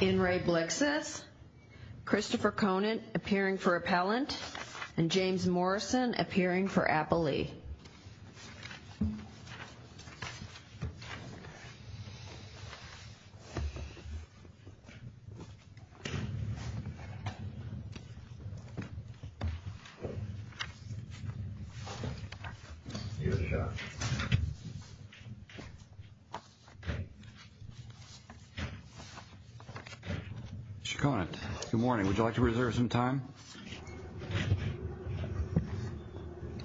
In re BLIXSETH, Christopher Conant appearing for Appellant and James Morrison appearing for Appellee. Mr. Conant, good morning. Would you like to reserve some time?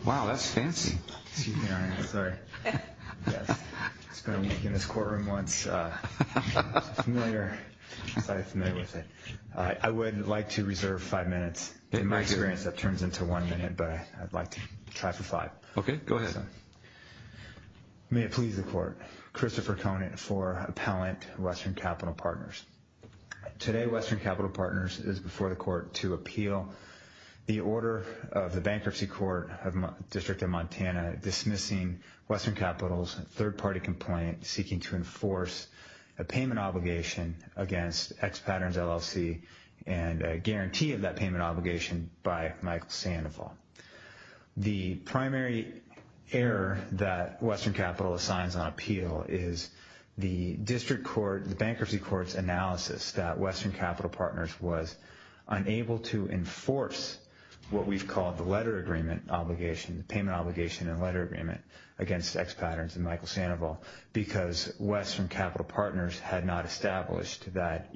Wow, that's fancy. Excuse me, Your Honor. I'm sorry. I've spent a week in this courtroom once. I'm familiar with it. I would like to reserve five minutes. In my experience, that turns into one minute, but I'd like to try for five. Okay, go ahead. May it please the Court. Christopher Conant for Appellant, Western Capital Partners. Today, Western Capital Partners is before the Court to appeal the order of the Bankruptcy Court of the District of Montana dismissing Western Capital's third-party complaint seeking to enforce a payment obligation against X-Patterns LLC and a guarantee of that payment obligation by Michael Sandoval. The primary error that Western Capital assigns on appeal is the Bankruptcy Court's analysis that Western Capital Partners was unable to enforce what we've called the letter agreement obligation, the payment obligation and letter agreement against X-Patterns and Michael Sandoval because Western Capital Partners had not established that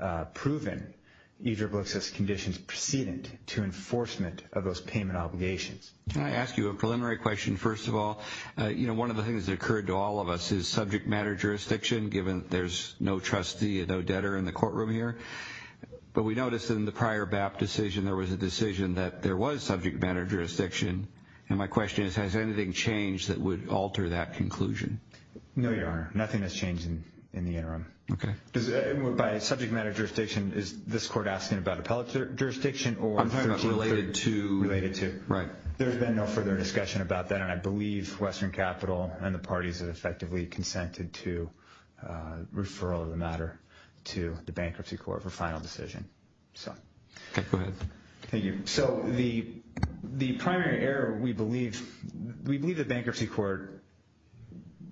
or proven E-XXX conditions precedent to enforcement of those payment obligations. Can I ask you a preliminary question first of all? You know, one of the things that occurred to all of us is subject matter jurisdiction, given there's no trustee, no debtor in the courtroom here. But we noticed in the prior BAP decision there was a decision that there was subject matter jurisdiction. And my question is, has anything changed that would alter that conclusion? No, Your Honor. Nothing has changed in the interim. Okay. By subject matter jurisdiction, is this court asking about appellate jurisdiction or... I'm talking about related to... Related to. Right. There's been no further discussion about that, and I believe Western Capital and the parties have effectively consented to referral of the matter to the Bankruptcy Court for final decision. Okay, go ahead. Thank you. So the primary error we believe, we believe the Bankruptcy Court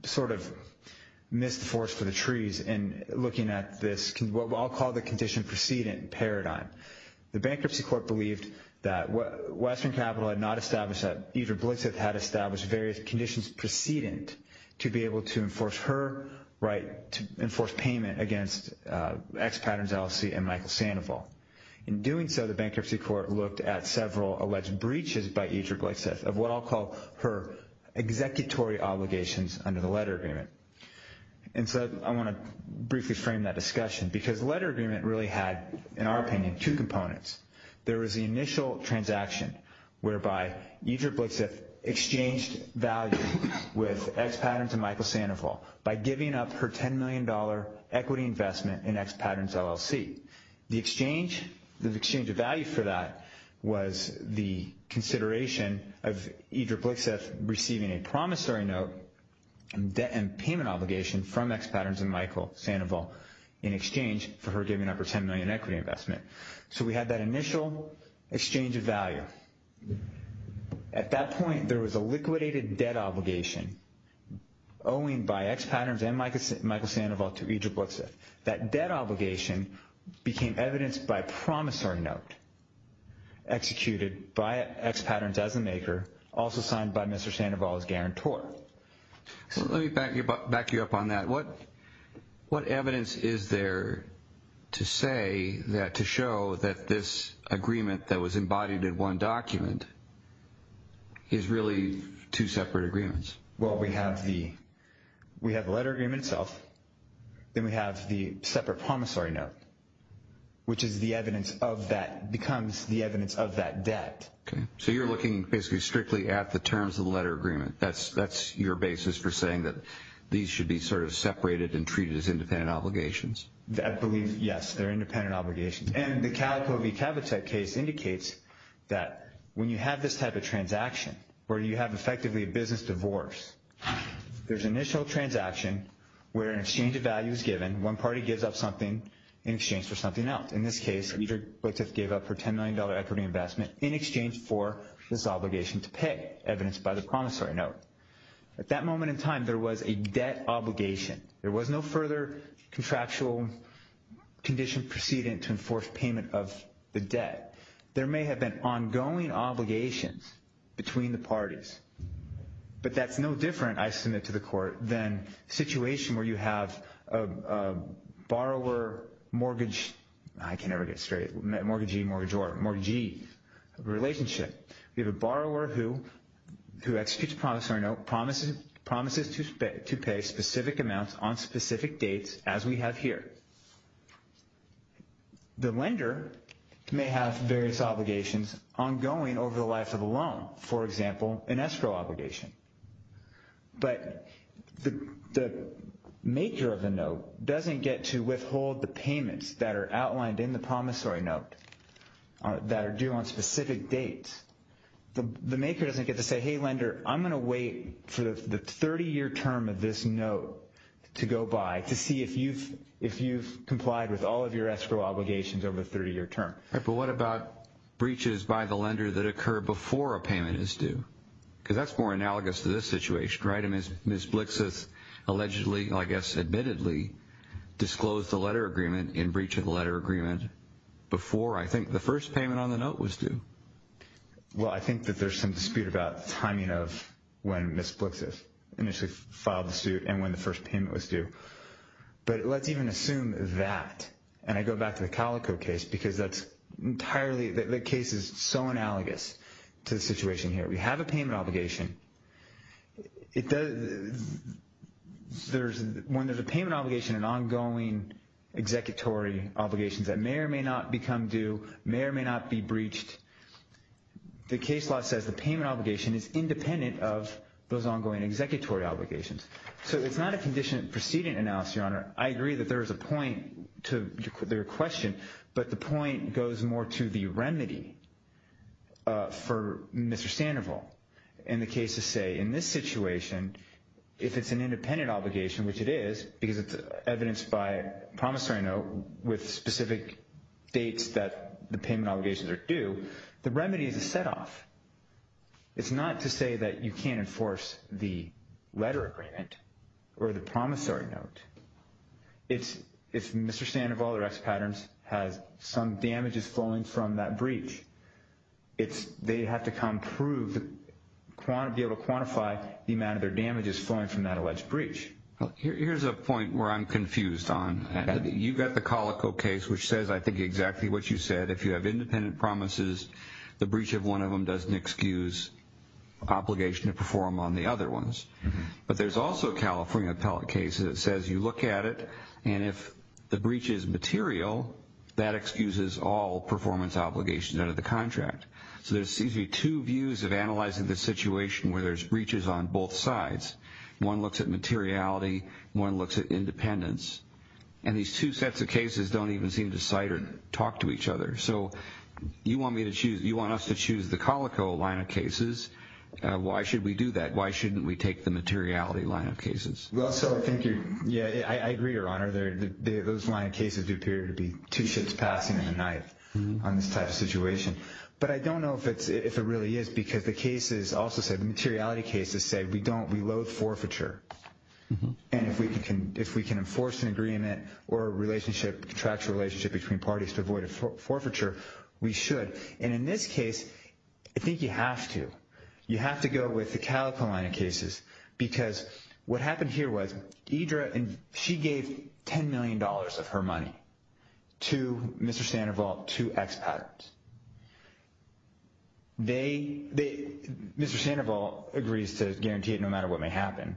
sort of missed the forest for the trees in looking at this, what I'll call the condition precedent paradigm. The Bankruptcy Court believed that Western Capital had not established that, either Blixith had established various conditions precedent to be able to enforce her right to enforce payment against X Patterns LLC and Michael Sandoval. In doing so, the Bankruptcy Court looked at several alleged breaches by Edra Blixith of what I'll call her executory obligations under the letter agreement. And so I want to briefly frame that discussion because the letter agreement really had, in our opinion, two components. There was the initial transaction whereby Edra Blixith exchanged value with X Patterns and Michael Sandoval by giving up her $10 million equity investment in X Patterns LLC. The exchange, the exchange of value for that was the consideration of Edra Blixith receiving a promissory note and payment obligation from X Patterns and Michael Sandoval in exchange for her giving up her $10 million equity investment. So we had that initial exchange of value. At that point, there was a liquidated debt obligation owing by X Patterns and Michael Sandoval to Edra Blixith. That debt obligation became evidenced by a promissory note executed by X Patterns as a maker, also signed by Mr. Sandoval as guarantor. Let me back you up on that. What evidence is there to say that to show that this agreement that was embodied in one document is really two separate agreements? Well, we have the letter agreement itself. Then we have the separate promissory note, which is the evidence of that, becomes the evidence of that debt. Okay. So you're looking basically strictly at the terms of the letter agreement. That's your basis for saying that these should be sort of separated and treated as independent obligations? I believe, yes, they're independent obligations. And the Calico v. Cavitech case indicates that when you have this type of transaction, where you have effectively a business divorce, there's an initial transaction where an exchange of value is given. One party gives up something in exchange for something else. In this case, Edra Blixith gave up her $10 million equity investment in exchange for this obligation to pay, evidenced by the promissory note. At that moment in time, there was a debt obligation. There was no further contractual condition proceeding to enforce payment of the debt. There may have been ongoing obligations between the parties. But that's no different, I submit to the Court, than a situation where you have a borrower-mortgage, I can never get it straight, mortgagee-mortgageor, mortgagee relationship. We have a borrower who executes a promissory note, promises to pay specific amounts on specific dates, as we have here. The lender may have various obligations ongoing over the life of the loan, for example, an escrow obligation. But the maker of the note doesn't get to withhold the payments that are outlined in the promissory note, that are due on specific dates. The maker doesn't get to say, hey, lender, I'm going to wait for the 30-year term of this note to go by to see if you've complied with all of your escrow obligations over the 30-year term. But what about breaches by the lender that occur before a payment is due? Because that's more analogous to this situation, right? Ms. Blixith allegedly, I guess admittedly, disclosed the letter agreement in breach of the letter agreement before, I think, the first payment on the note was due. Well, I think that there's some dispute about timing of when Ms. Blixith initially filed the suit and when the first payment was due. But let's even assume that, and I go back to the Calico case, because that's entirely, the case is so analogous to the situation here. We have a payment obligation. When there's a payment obligation, an ongoing executory obligation that may or may not become due, may or may not be breached, the case law says the payment obligation is independent of those ongoing executory obligations. So it's not a condition preceding an analysis, Your Honor. I agree that there is a point to their question, but the point goes more to the remedy for Mr. Sandoval in the case of, say, in this situation, if it's an independent obligation, which it is, because it's evidenced by promissory note with specific dates that the payment obligations are due, the remedy is a set-off. It's not to say that you can't enforce the letter agreement or the promissory note. If Mr. Sandoval, or X Patterns, has some damages flowing from that breach, they have to come prove, be able to quantify the amount of their damages flowing from that alleged breach. Here's a point where I'm confused on. You've got the Calico case, which says, I think, exactly what you said. If you have independent promises, the breach of one of them doesn't excuse obligation to perform on the other ones. But there's also a California appellate case that says you look at it, and if the breach is material, that excuses all performance obligations under the contract. So there seems to be two views of analyzing the situation where there's breaches on both sides. One looks at materiality. One looks at independence. And these two sets of cases don't even seem to cite or talk to each other. So you want me to choose, you want us to choose the Calico line of cases. Why should we do that? Why shouldn't we take the materiality line of cases? Yeah, I agree, Your Honor. Those line of cases do appear to be two ships passing in the night on this type of situation. But I don't know if it really is because the cases also said materiality cases say we don't, we loathe forfeiture. And if we can enforce an agreement or a relationship, contractual relationship between parties to avoid forfeiture, we should. And in this case, I think you have to. You have to go with the Calico line of cases because what happened here was Idra, and she gave $10 million of her money to Mr. Sandoval, to expats. They, Mr. Sandoval agrees to guarantee it no matter what may happen.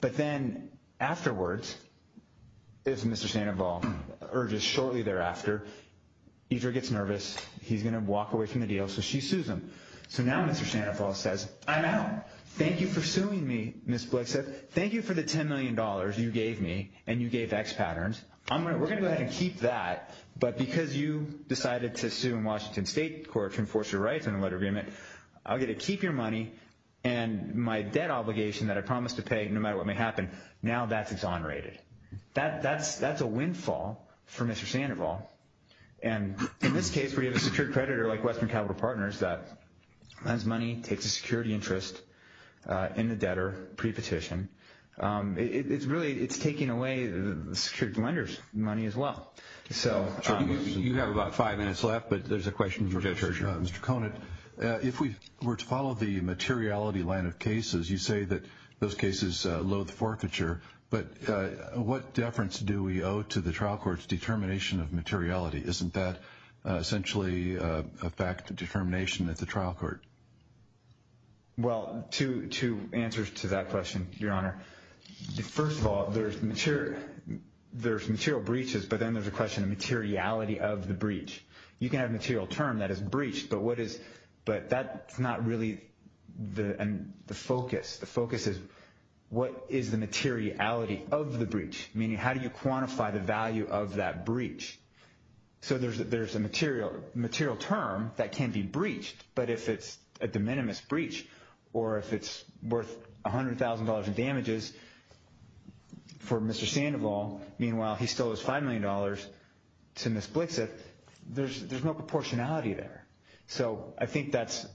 But then afterwards, as Mr. Sandoval urges shortly thereafter, Idra gets nervous. He's going to walk away from the deal, so she sues him. So now Mr. Sandoval says, I'm out. Thank you for suing me, Ms. Blixit. Thank you for the $10 million you gave me, and you gave expaterns. We're going to go ahead and keep that, but because you decided to sue in Washington State Court to enforce your rights in a letter of agreement, I'll get to keep your money. And my debt obligation that I promised to pay no matter what may happen, now that's exonerated. That's a windfall for Mr. Sandoval. And in this case, we have a secured creditor like Western Capital Partners that lends money, takes a security interest in the debtor pre-petition. It's really taking away the security lender's money as well. So you have about five minutes left, but there's a question for Judge Hershey. Mr. Conant, if we were to follow the materiality line of cases, you say that those cases loathe forfeiture. But what deference do we owe to the trial court's determination of materiality? Isn't that essentially a fact of determination at the trial court? Well, two answers to that question, Your Honor. First of all, there's material breaches, but then there's a question of materiality of the breach. You can have a material term that is breached, but that's not really the focus. The focus is what is the materiality of the breach, meaning how do you quantify the value of that breach? So there's a material term that can be breached, but if it's a de minimis breach or if it's worth $100,000 in damages for Mr. Sandoval, meanwhile he still owes $5 million to Ms. Blixith, there's no proportionality there. So I think that's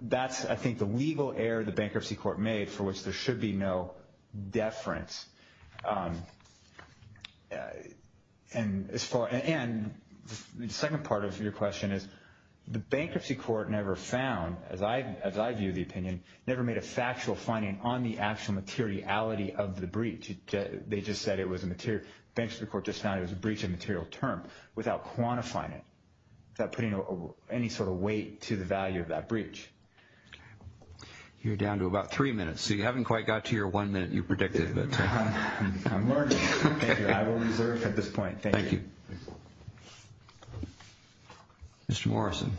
the legal error the bankruptcy court made for which there should be no deference. And the second part of your question is the bankruptcy court never found, as I view the opinion, never made a factual finding on the actual materiality of the breach. They just said it was a material. The bankruptcy court just found it was a breach of material term without quantifying it, without putting any sort of weight to the value of that breach. You're down to about three minutes, so you haven't quite got to your one minute you predicted. I'm learning. I will reserve at this point. Thank you. Mr. Morrison.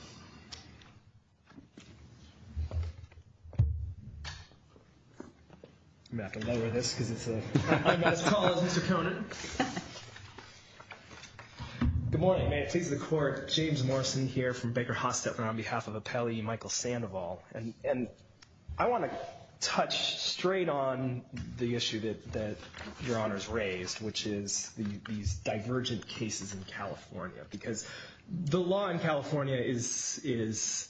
I'm going to have to lower this because I'm not as tall as Mr. Conant. Good morning. May it please the Court. James Morrison here from Baker-Hostetler on behalf of Appellee Michael Sandoval. And I want to touch straight on the issue that Your Honor's raised, which is these divergent cases in California. Because the law in California is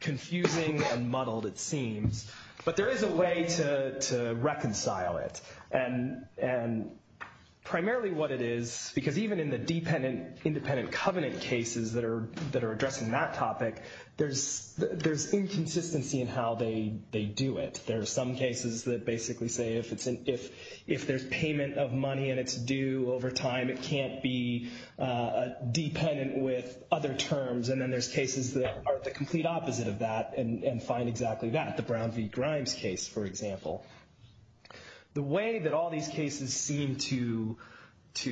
confusing and muddled, it seems. But there is a way to reconcile it. And primarily what it is, because even in the independent covenant cases that are addressing that topic, there's inconsistency in how they do it. There are some cases that basically say if there's payment of money and it's due over time, it can't be dependent with other terms. And then there's cases that are the complete opposite of that and find exactly that. The Brown v. Grimes case, for example. The way that all these cases seem to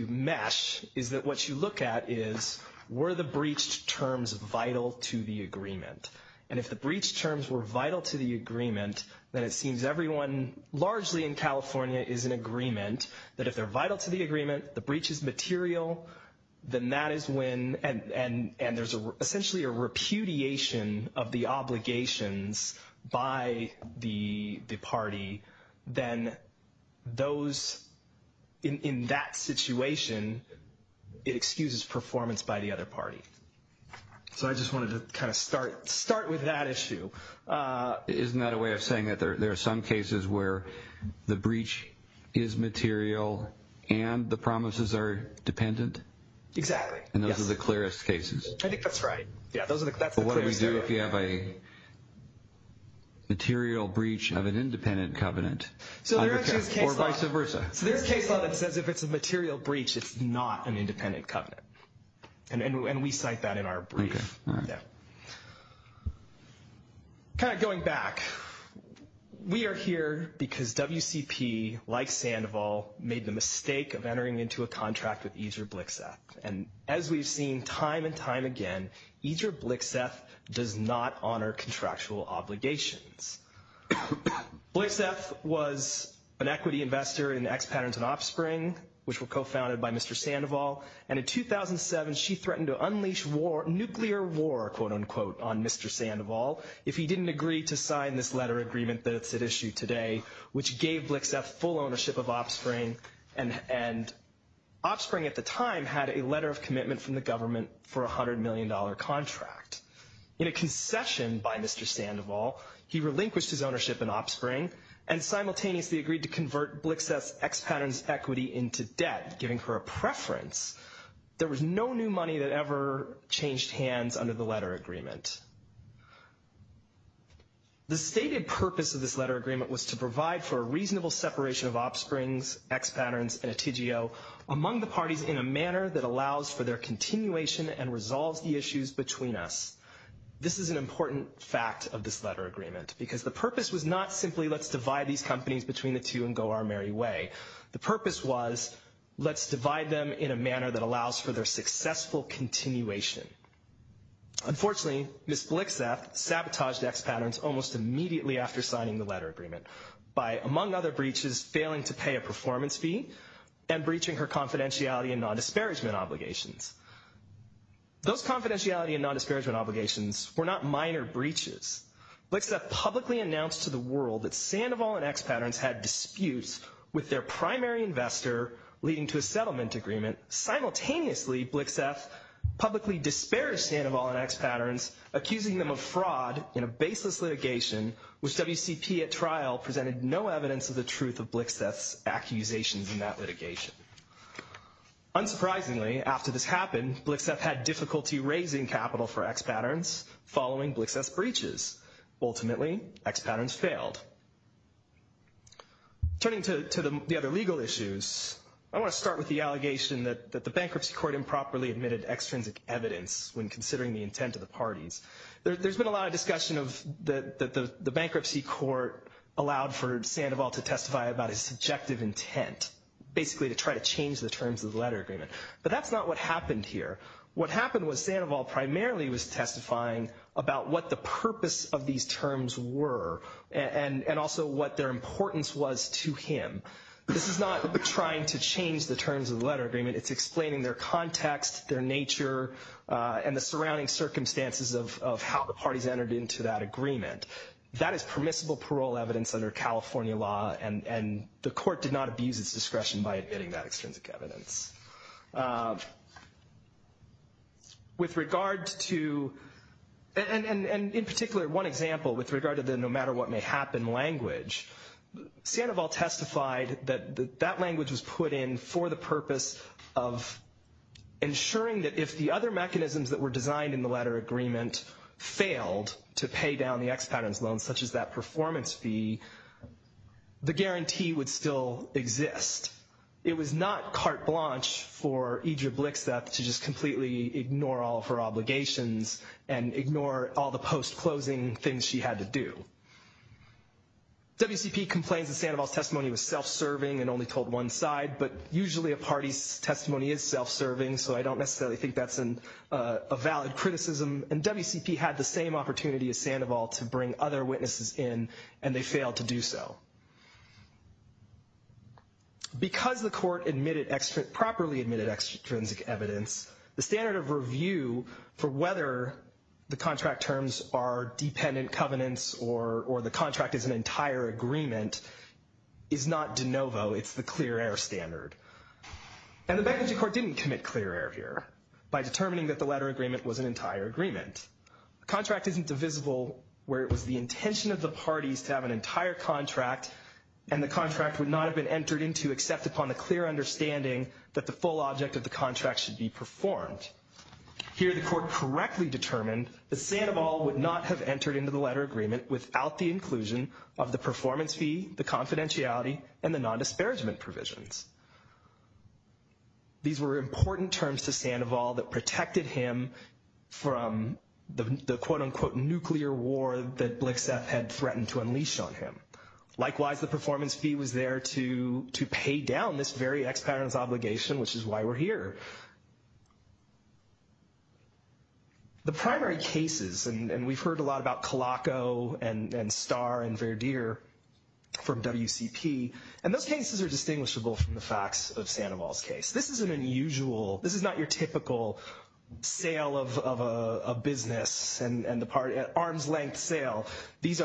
mesh is that what you look at is were the breached terms vital to the agreement? And if the breached terms were vital to the agreement, then it seems everyone largely in California is in agreement that if they're vital to the agreement, the breach is material, then that is when, and there's essentially a repudiation of the obligations by the party, then those in that situation, it excuses performance by the other party. So I just wanted to kind of start with that issue. Isn't that a way of saying that there are some cases where the breach is material and the promises are dependent? Exactly. And those are the clearest cases. I think that's right. But what do we do if we have a material breach of an independent covenant? So there's a case law that says if it's a material breach, it's not an independent covenant. And we cite that in our brief. Going back, we are here because WCP, like Sandoval, made the mistake of entering into a contract with Ezra Blixeth. And as we've seen time and time again, Ezra Blixeth does not honor contractual obligations. Blixeth was an equity investor in X Patterns and Offspring, which were co-founded by Mr. Sandoval. And in 2007, she threatened to unleash war, nuclear war, quote-unquote, on Mr. Sandoval if he didn't agree to sign this letter agreement that's at issue today, which gave Blixeth full ownership of Offspring. And Offspring at the time had a letter of commitment from the government for a $100 million contract. In a concession by Mr. Sandoval, he relinquished his ownership in Offspring and simultaneously agreed to convert Blixeth's X Patterns equity into debt, giving her a preference. There was no new money that ever changed hands under the letter agreement. The stated purpose of this letter agreement was to provide for a reasonable separation of Offsprings, X Patterns, and a TGO among the parties in a manner that allows for their continuation and resolves the issues between us. This is an important fact of this letter agreement because the purpose was not simply let's divide these companies between the two and go our merry way. The purpose was let's divide them in a manner that allows for their successful continuation. Unfortunately, Ms. Blixeth sabotaged X Patterns almost immediately after signing the letter agreement by, among other breaches, failing to pay a performance fee and breaching her confidentiality and nondisparagement obligations. Those confidentiality and nondisparagement obligations were not minor breaches. Blixeth publicly announced to the world that Sandoval and X Patterns had disputes with their primary investor leading to a settlement agreement. Simultaneously, Blixeth publicly disparaged Sandoval and X Patterns, accusing them of fraud in a baseless litigation which WCP at trial presented no evidence of the truth of Blixeth's accusations in that litigation. Unsurprisingly, after this happened, Blixeth had difficulty raising capital for X Patterns following Blixeth's breaches. Ultimately, X Patterns failed. Turning to the other legal issues, I want to start with the allegation that the bankruptcy court improperly admitted extrinsic evidence when considering the intent of the parties. There's been a lot of discussion that the bankruptcy court allowed for Sandoval to testify about his subjective intent, basically to try to change the terms of the letter agreement. But that's not what happened here. What happened was Sandoval primarily was testifying about what the purpose of these terms were and also what their importance was to him. This is not trying to change the terms of the letter agreement. It's explaining their context, their nature, and the surrounding circumstances of how the parties entered into that agreement. That is permissible parole evidence under California law, and the court did not abuse its discretion by admitting that extrinsic evidence. With regard to, and in particular, one example with regard to the no matter what may happen language, Sandoval testified that that language was put in for the purpose of ensuring that if the other mechanisms that were designed in the letter agreement failed to pay down the ex-patrons loan, such as that performance fee, the guarantee would still exist. It was not carte blanche for Idria Blixeth to just completely ignore all of her obligations and ignore all the post-closing things she had to do. WCP complains that Sandoval's testimony was self-serving and only told one side, but usually a party's testimony is self-serving, so I don't necessarily think that's a valid criticism. And WCP had the same opportunity as Sandoval to bring other witnesses in, and they failed to do so. Because the court properly admitted extrinsic evidence, the standard of review for whether the contract terms are dependent covenants or the contract is an entire agreement is not de novo. It's the clear air standard. And the Beckenjie Court didn't commit clear air here by determining that the letter agreement was an entire agreement. A contract isn't divisible where it was the intention of the parties to have an entire contract and the contract would not have been entered into except upon a clear understanding that the full object of the contract should be performed. Here the court correctly determined that Sandoval would not have entered into the letter agreement without the inclusion of the performance fee, the confidentiality, and the non-disparagement provisions. These were important terms to Sandoval that protected him from the quote-unquote nuclear war that Blixeff had threatened to unleash on him. Likewise, the performance fee was there to pay down this very ex-parent's obligation, which is why we're here. The primary cases, and we've heard a lot about Calaco and Starr and Verdeer from WCP, and those cases are distinguishable from the facts of Sandoval's case. This is an unusual, this is not your typical sale of a business, an arms-length sale. This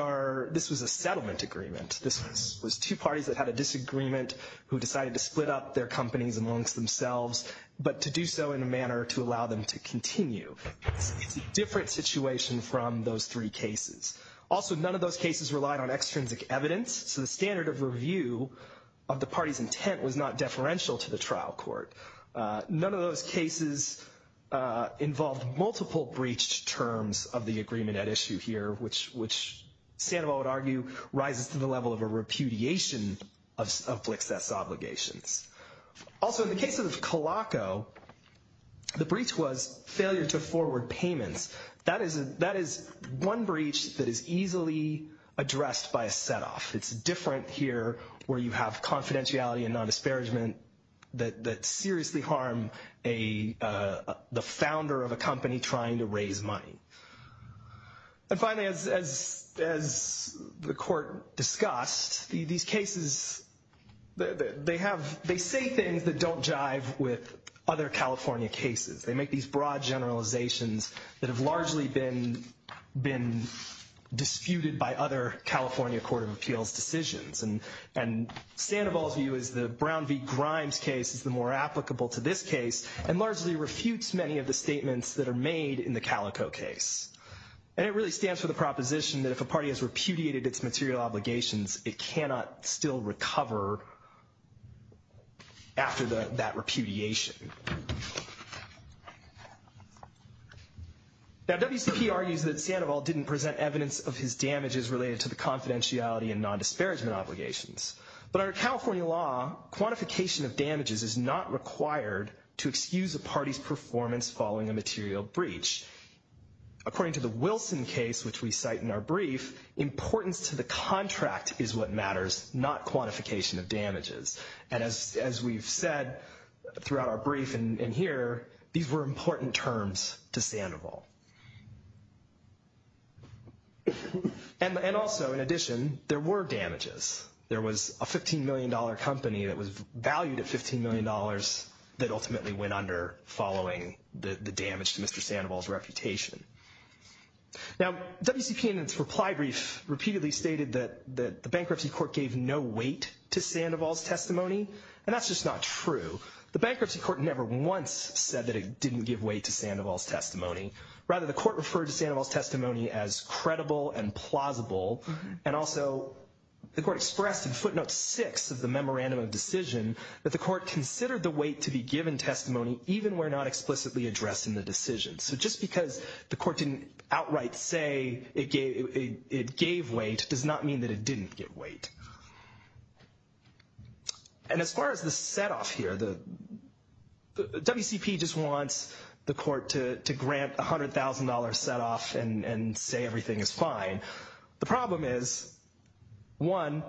was a settlement agreement. This was two parties that had a disagreement who decided to split up their companies amongst themselves, but to do so in a manner to allow them to continue. It's a different situation from those three cases. Also, none of those cases relied on extrinsic evidence, so the standard of review of the party's intent was not deferential to the trial court. None of those cases involved multiple breached terms of the agreement at issue here, which Sandoval would argue rises to the level of a repudiation of Blixeff's obligations. Also, in the case of Calaco, the breach was failure to forward payments. That is one breach that is easily addressed by a set-off. It's different here where you have confidentiality and non-disparagement that seriously harm the founder of a company trying to raise money. And finally, as the Court discussed, these cases, they say things that don't jive with other California cases. They make these broad generalizations that have largely been disputed by other California Court of Appeals decisions. And Sandoval's view is the Brown v. Grimes case is the more applicable to this case and largely refutes many of the statements that are made in the Calaco case. And it really stands for the proposition that if a party has repudiated its material obligations, it cannot still recover after that repudiation. Now, WCP argues that Sandoval didn't present evidence of his damages related to the confidentiality and non-disparagement obligations. But under California law, quantification of damages is not required to excuse a party's performance following a material breach. According to the Wilson case, which we cite in our brief, importance to the contract is what matters, not quantification of damages. And as we've said throughout our brief and here, these were important terms to Sandoval. And also, in addition, there were damages. There was a $15 million company that was valued at $15 million that ultimately went under following the damage to Mr. Sandoval's reputation. Now, WCP in its reply brief repeatedly stated that the bankruptcy court gave no weight to Sandoval's testimony, and that's just not true. The bankruptcy court never once said that it didn't give weight to Sandoval's testimony. Rather, the court referred to Sandoval's testimony as credible and plausible. And also, the court expressed in footnote 6 of the memorandum of decision that the court considered the weight to be given testimony even where not explicitly addressed in the decision. So just because the court didn't outright say it gave weight does not mean that it didn't give weight. And as far as the setoff here, the WCP just wants the court to grant $100,000 setoff and say everything is fine. The problem is, one,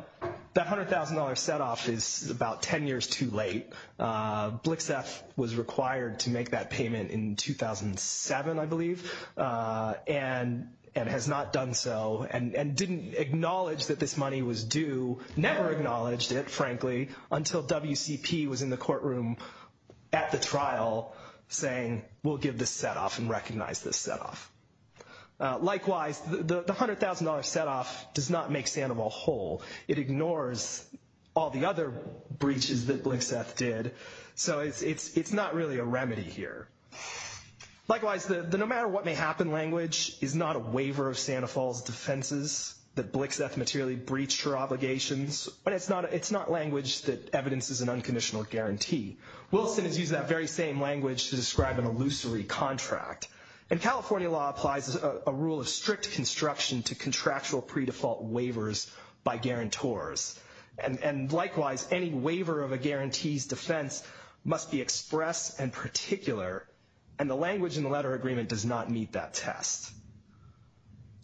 that $100,000 setoff is about 10 years too late. Blixeth was required to make that payment in 2007, I believe, and has not done so and didn't acknowledge that this money was due. Never acknowledged it, frankly, until WCP was in the courtroom at the trial saying we'll give this setoff and recognize this setoff. Likewise, the $100,000 setoff does not make Sandoval whole. It ignores all the other breaches that Blixeth did. So it's not really a remedy here. Likewise, the no matter what may happen language is not a waiver of Sandoval's defenses that Blixeth materially breached her obligations. But it's not language that evidences an unconditional guarantee. Wilson has used that very same language to describe an illusory contract. And California law applies a rule of strict construction to contractual pre-default waivers by guarantors. And likewise, any waiver of a guarantee's defense must be expressed and particular, and the language in the letter agreement does not meet that test.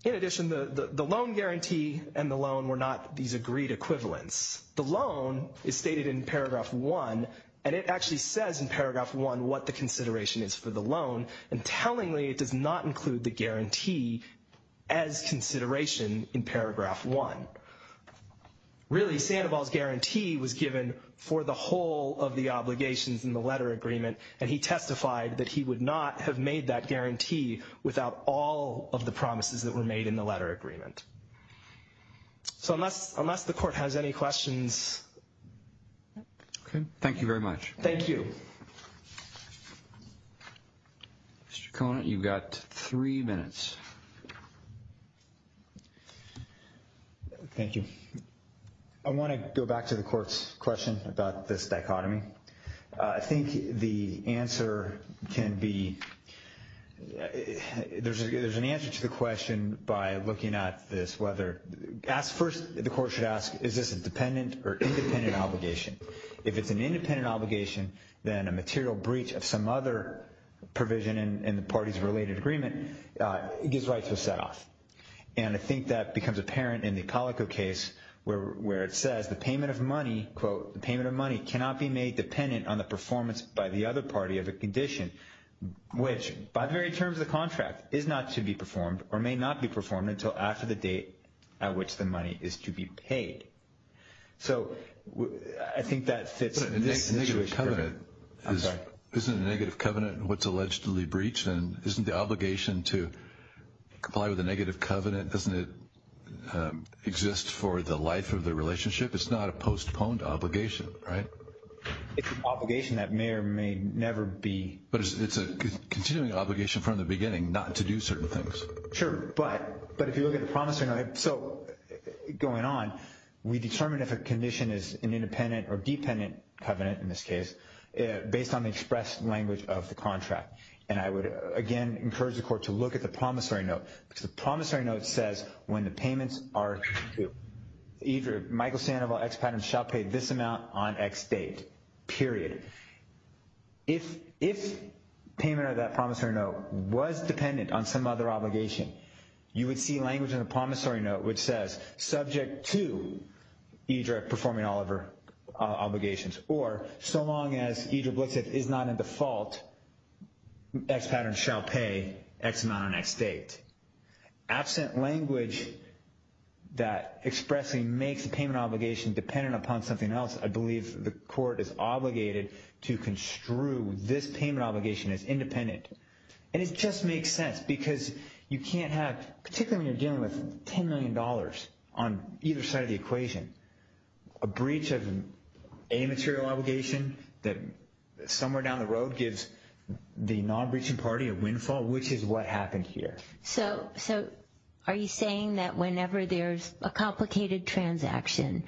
In addition, the loan guarantee and the loan were not these agreed equivalents. The loan is stated in paragraph 1, and it actually says in paragraph 1 what the consideration is for the loan. And tellingly, it does not include the guarantee as consideration in paragraph 1. Really, Sandoval's guarantee was given for the whole of the obligations in the letter agreement, and he testified that he would not have made that guarantee without all of the promises that were made in the letter agreement. So unless the court has any questions... Okay, thank you very much. Thank you. Mr. Conant, you've got three minutes. Thank you. I want to go back to the court's question about this dichotomy. I think the answer can be, there's an answer to the question by looking at this whether, first, the court should ask, is this a dependent or independent obligation? If it's an independent obligation, then a material breach of some other provision in the party's related agreement gives rights to a set-off. And I think that becomes apparent in the Calico case where it says the payment of money, quote, the payment of money cannot be made dependent on the performance by the other party of a condition, which, by the very terms of the contract, is not to be performed or may not be performed until after the date at which the money is to be paid. So I think that fits in this situation. But a negative covenant... I'm sorry. Isn't a negative covenant what's allegedly breached? And isn't the obligation to comply with a negative covenant, doesn't it exist for the life of the relationship? It's not a postponed obligation, right? It's an obligation that may or may never be... But it's a continuing obligation from the beginning not to do certain things. Sure. But if you look at the promissory note, so going on, we determined if a condition is an independent or dependent covenant, in this case, based on the express language of the contract. And I would, again, encourage the court to look at the promissory note because the promissory note says when the payments are due, Eidre, Michael Sandoval, expat and shall pay this amount on X date, period. If payment of that promissory note was dependent on some other obligation, you would see language in the promissory note which says, subject to Eidre performing all of her obligations, or so long as Eidre Blitzkrieg is not in default, expat and shall pay X amount on X date. Absent language that expressly makes the payment obligation dependent upon something else, I believe the court is obligated to construe this payment obligation as independent. And it just makes sense because you can't have, particularly when you're dealing with $10 million on either side of the equation, a breach of a material obligation that somewhere down the road gives the non-breaching party a windfall, which is what happened here. So are you saying that whenever there's a complicated transaction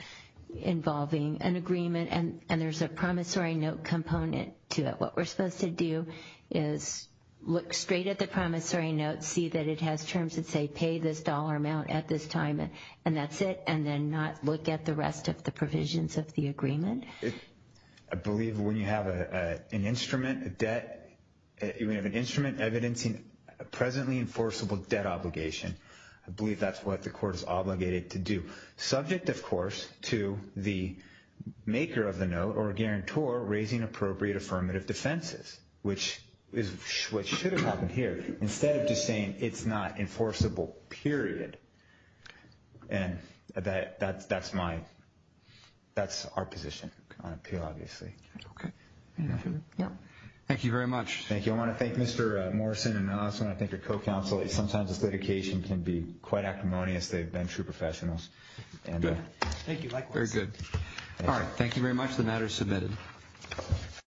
involving an agreement and there's a promissory note component to it, what we're supposed to do is look straight at the promissory note, see that it has terms that say pay this dollar amount at this time, and that's it, and then not look at the rest of the provisions of the agreement? I believe when you have an instrument evidencing a presently enforceable debt obligation, I believe that's what the court is obligated to do. Subject, of course, to the maker of the note or guarantor raising appropriate affirmative defenses, which is what should have happened here. Instead of just saying it's not enforceable, period. And that's my, that's our position on appeal, obviously. Okay. Thank you very much. Thank you. I want to thank Mr. Morrison, and I also want to thank your co-counsel. Sometimes this litigation can be quite acrimonious. They've been true professionals. Thank you, likewise. Very good. All right, thank you very much. The matter is submitted.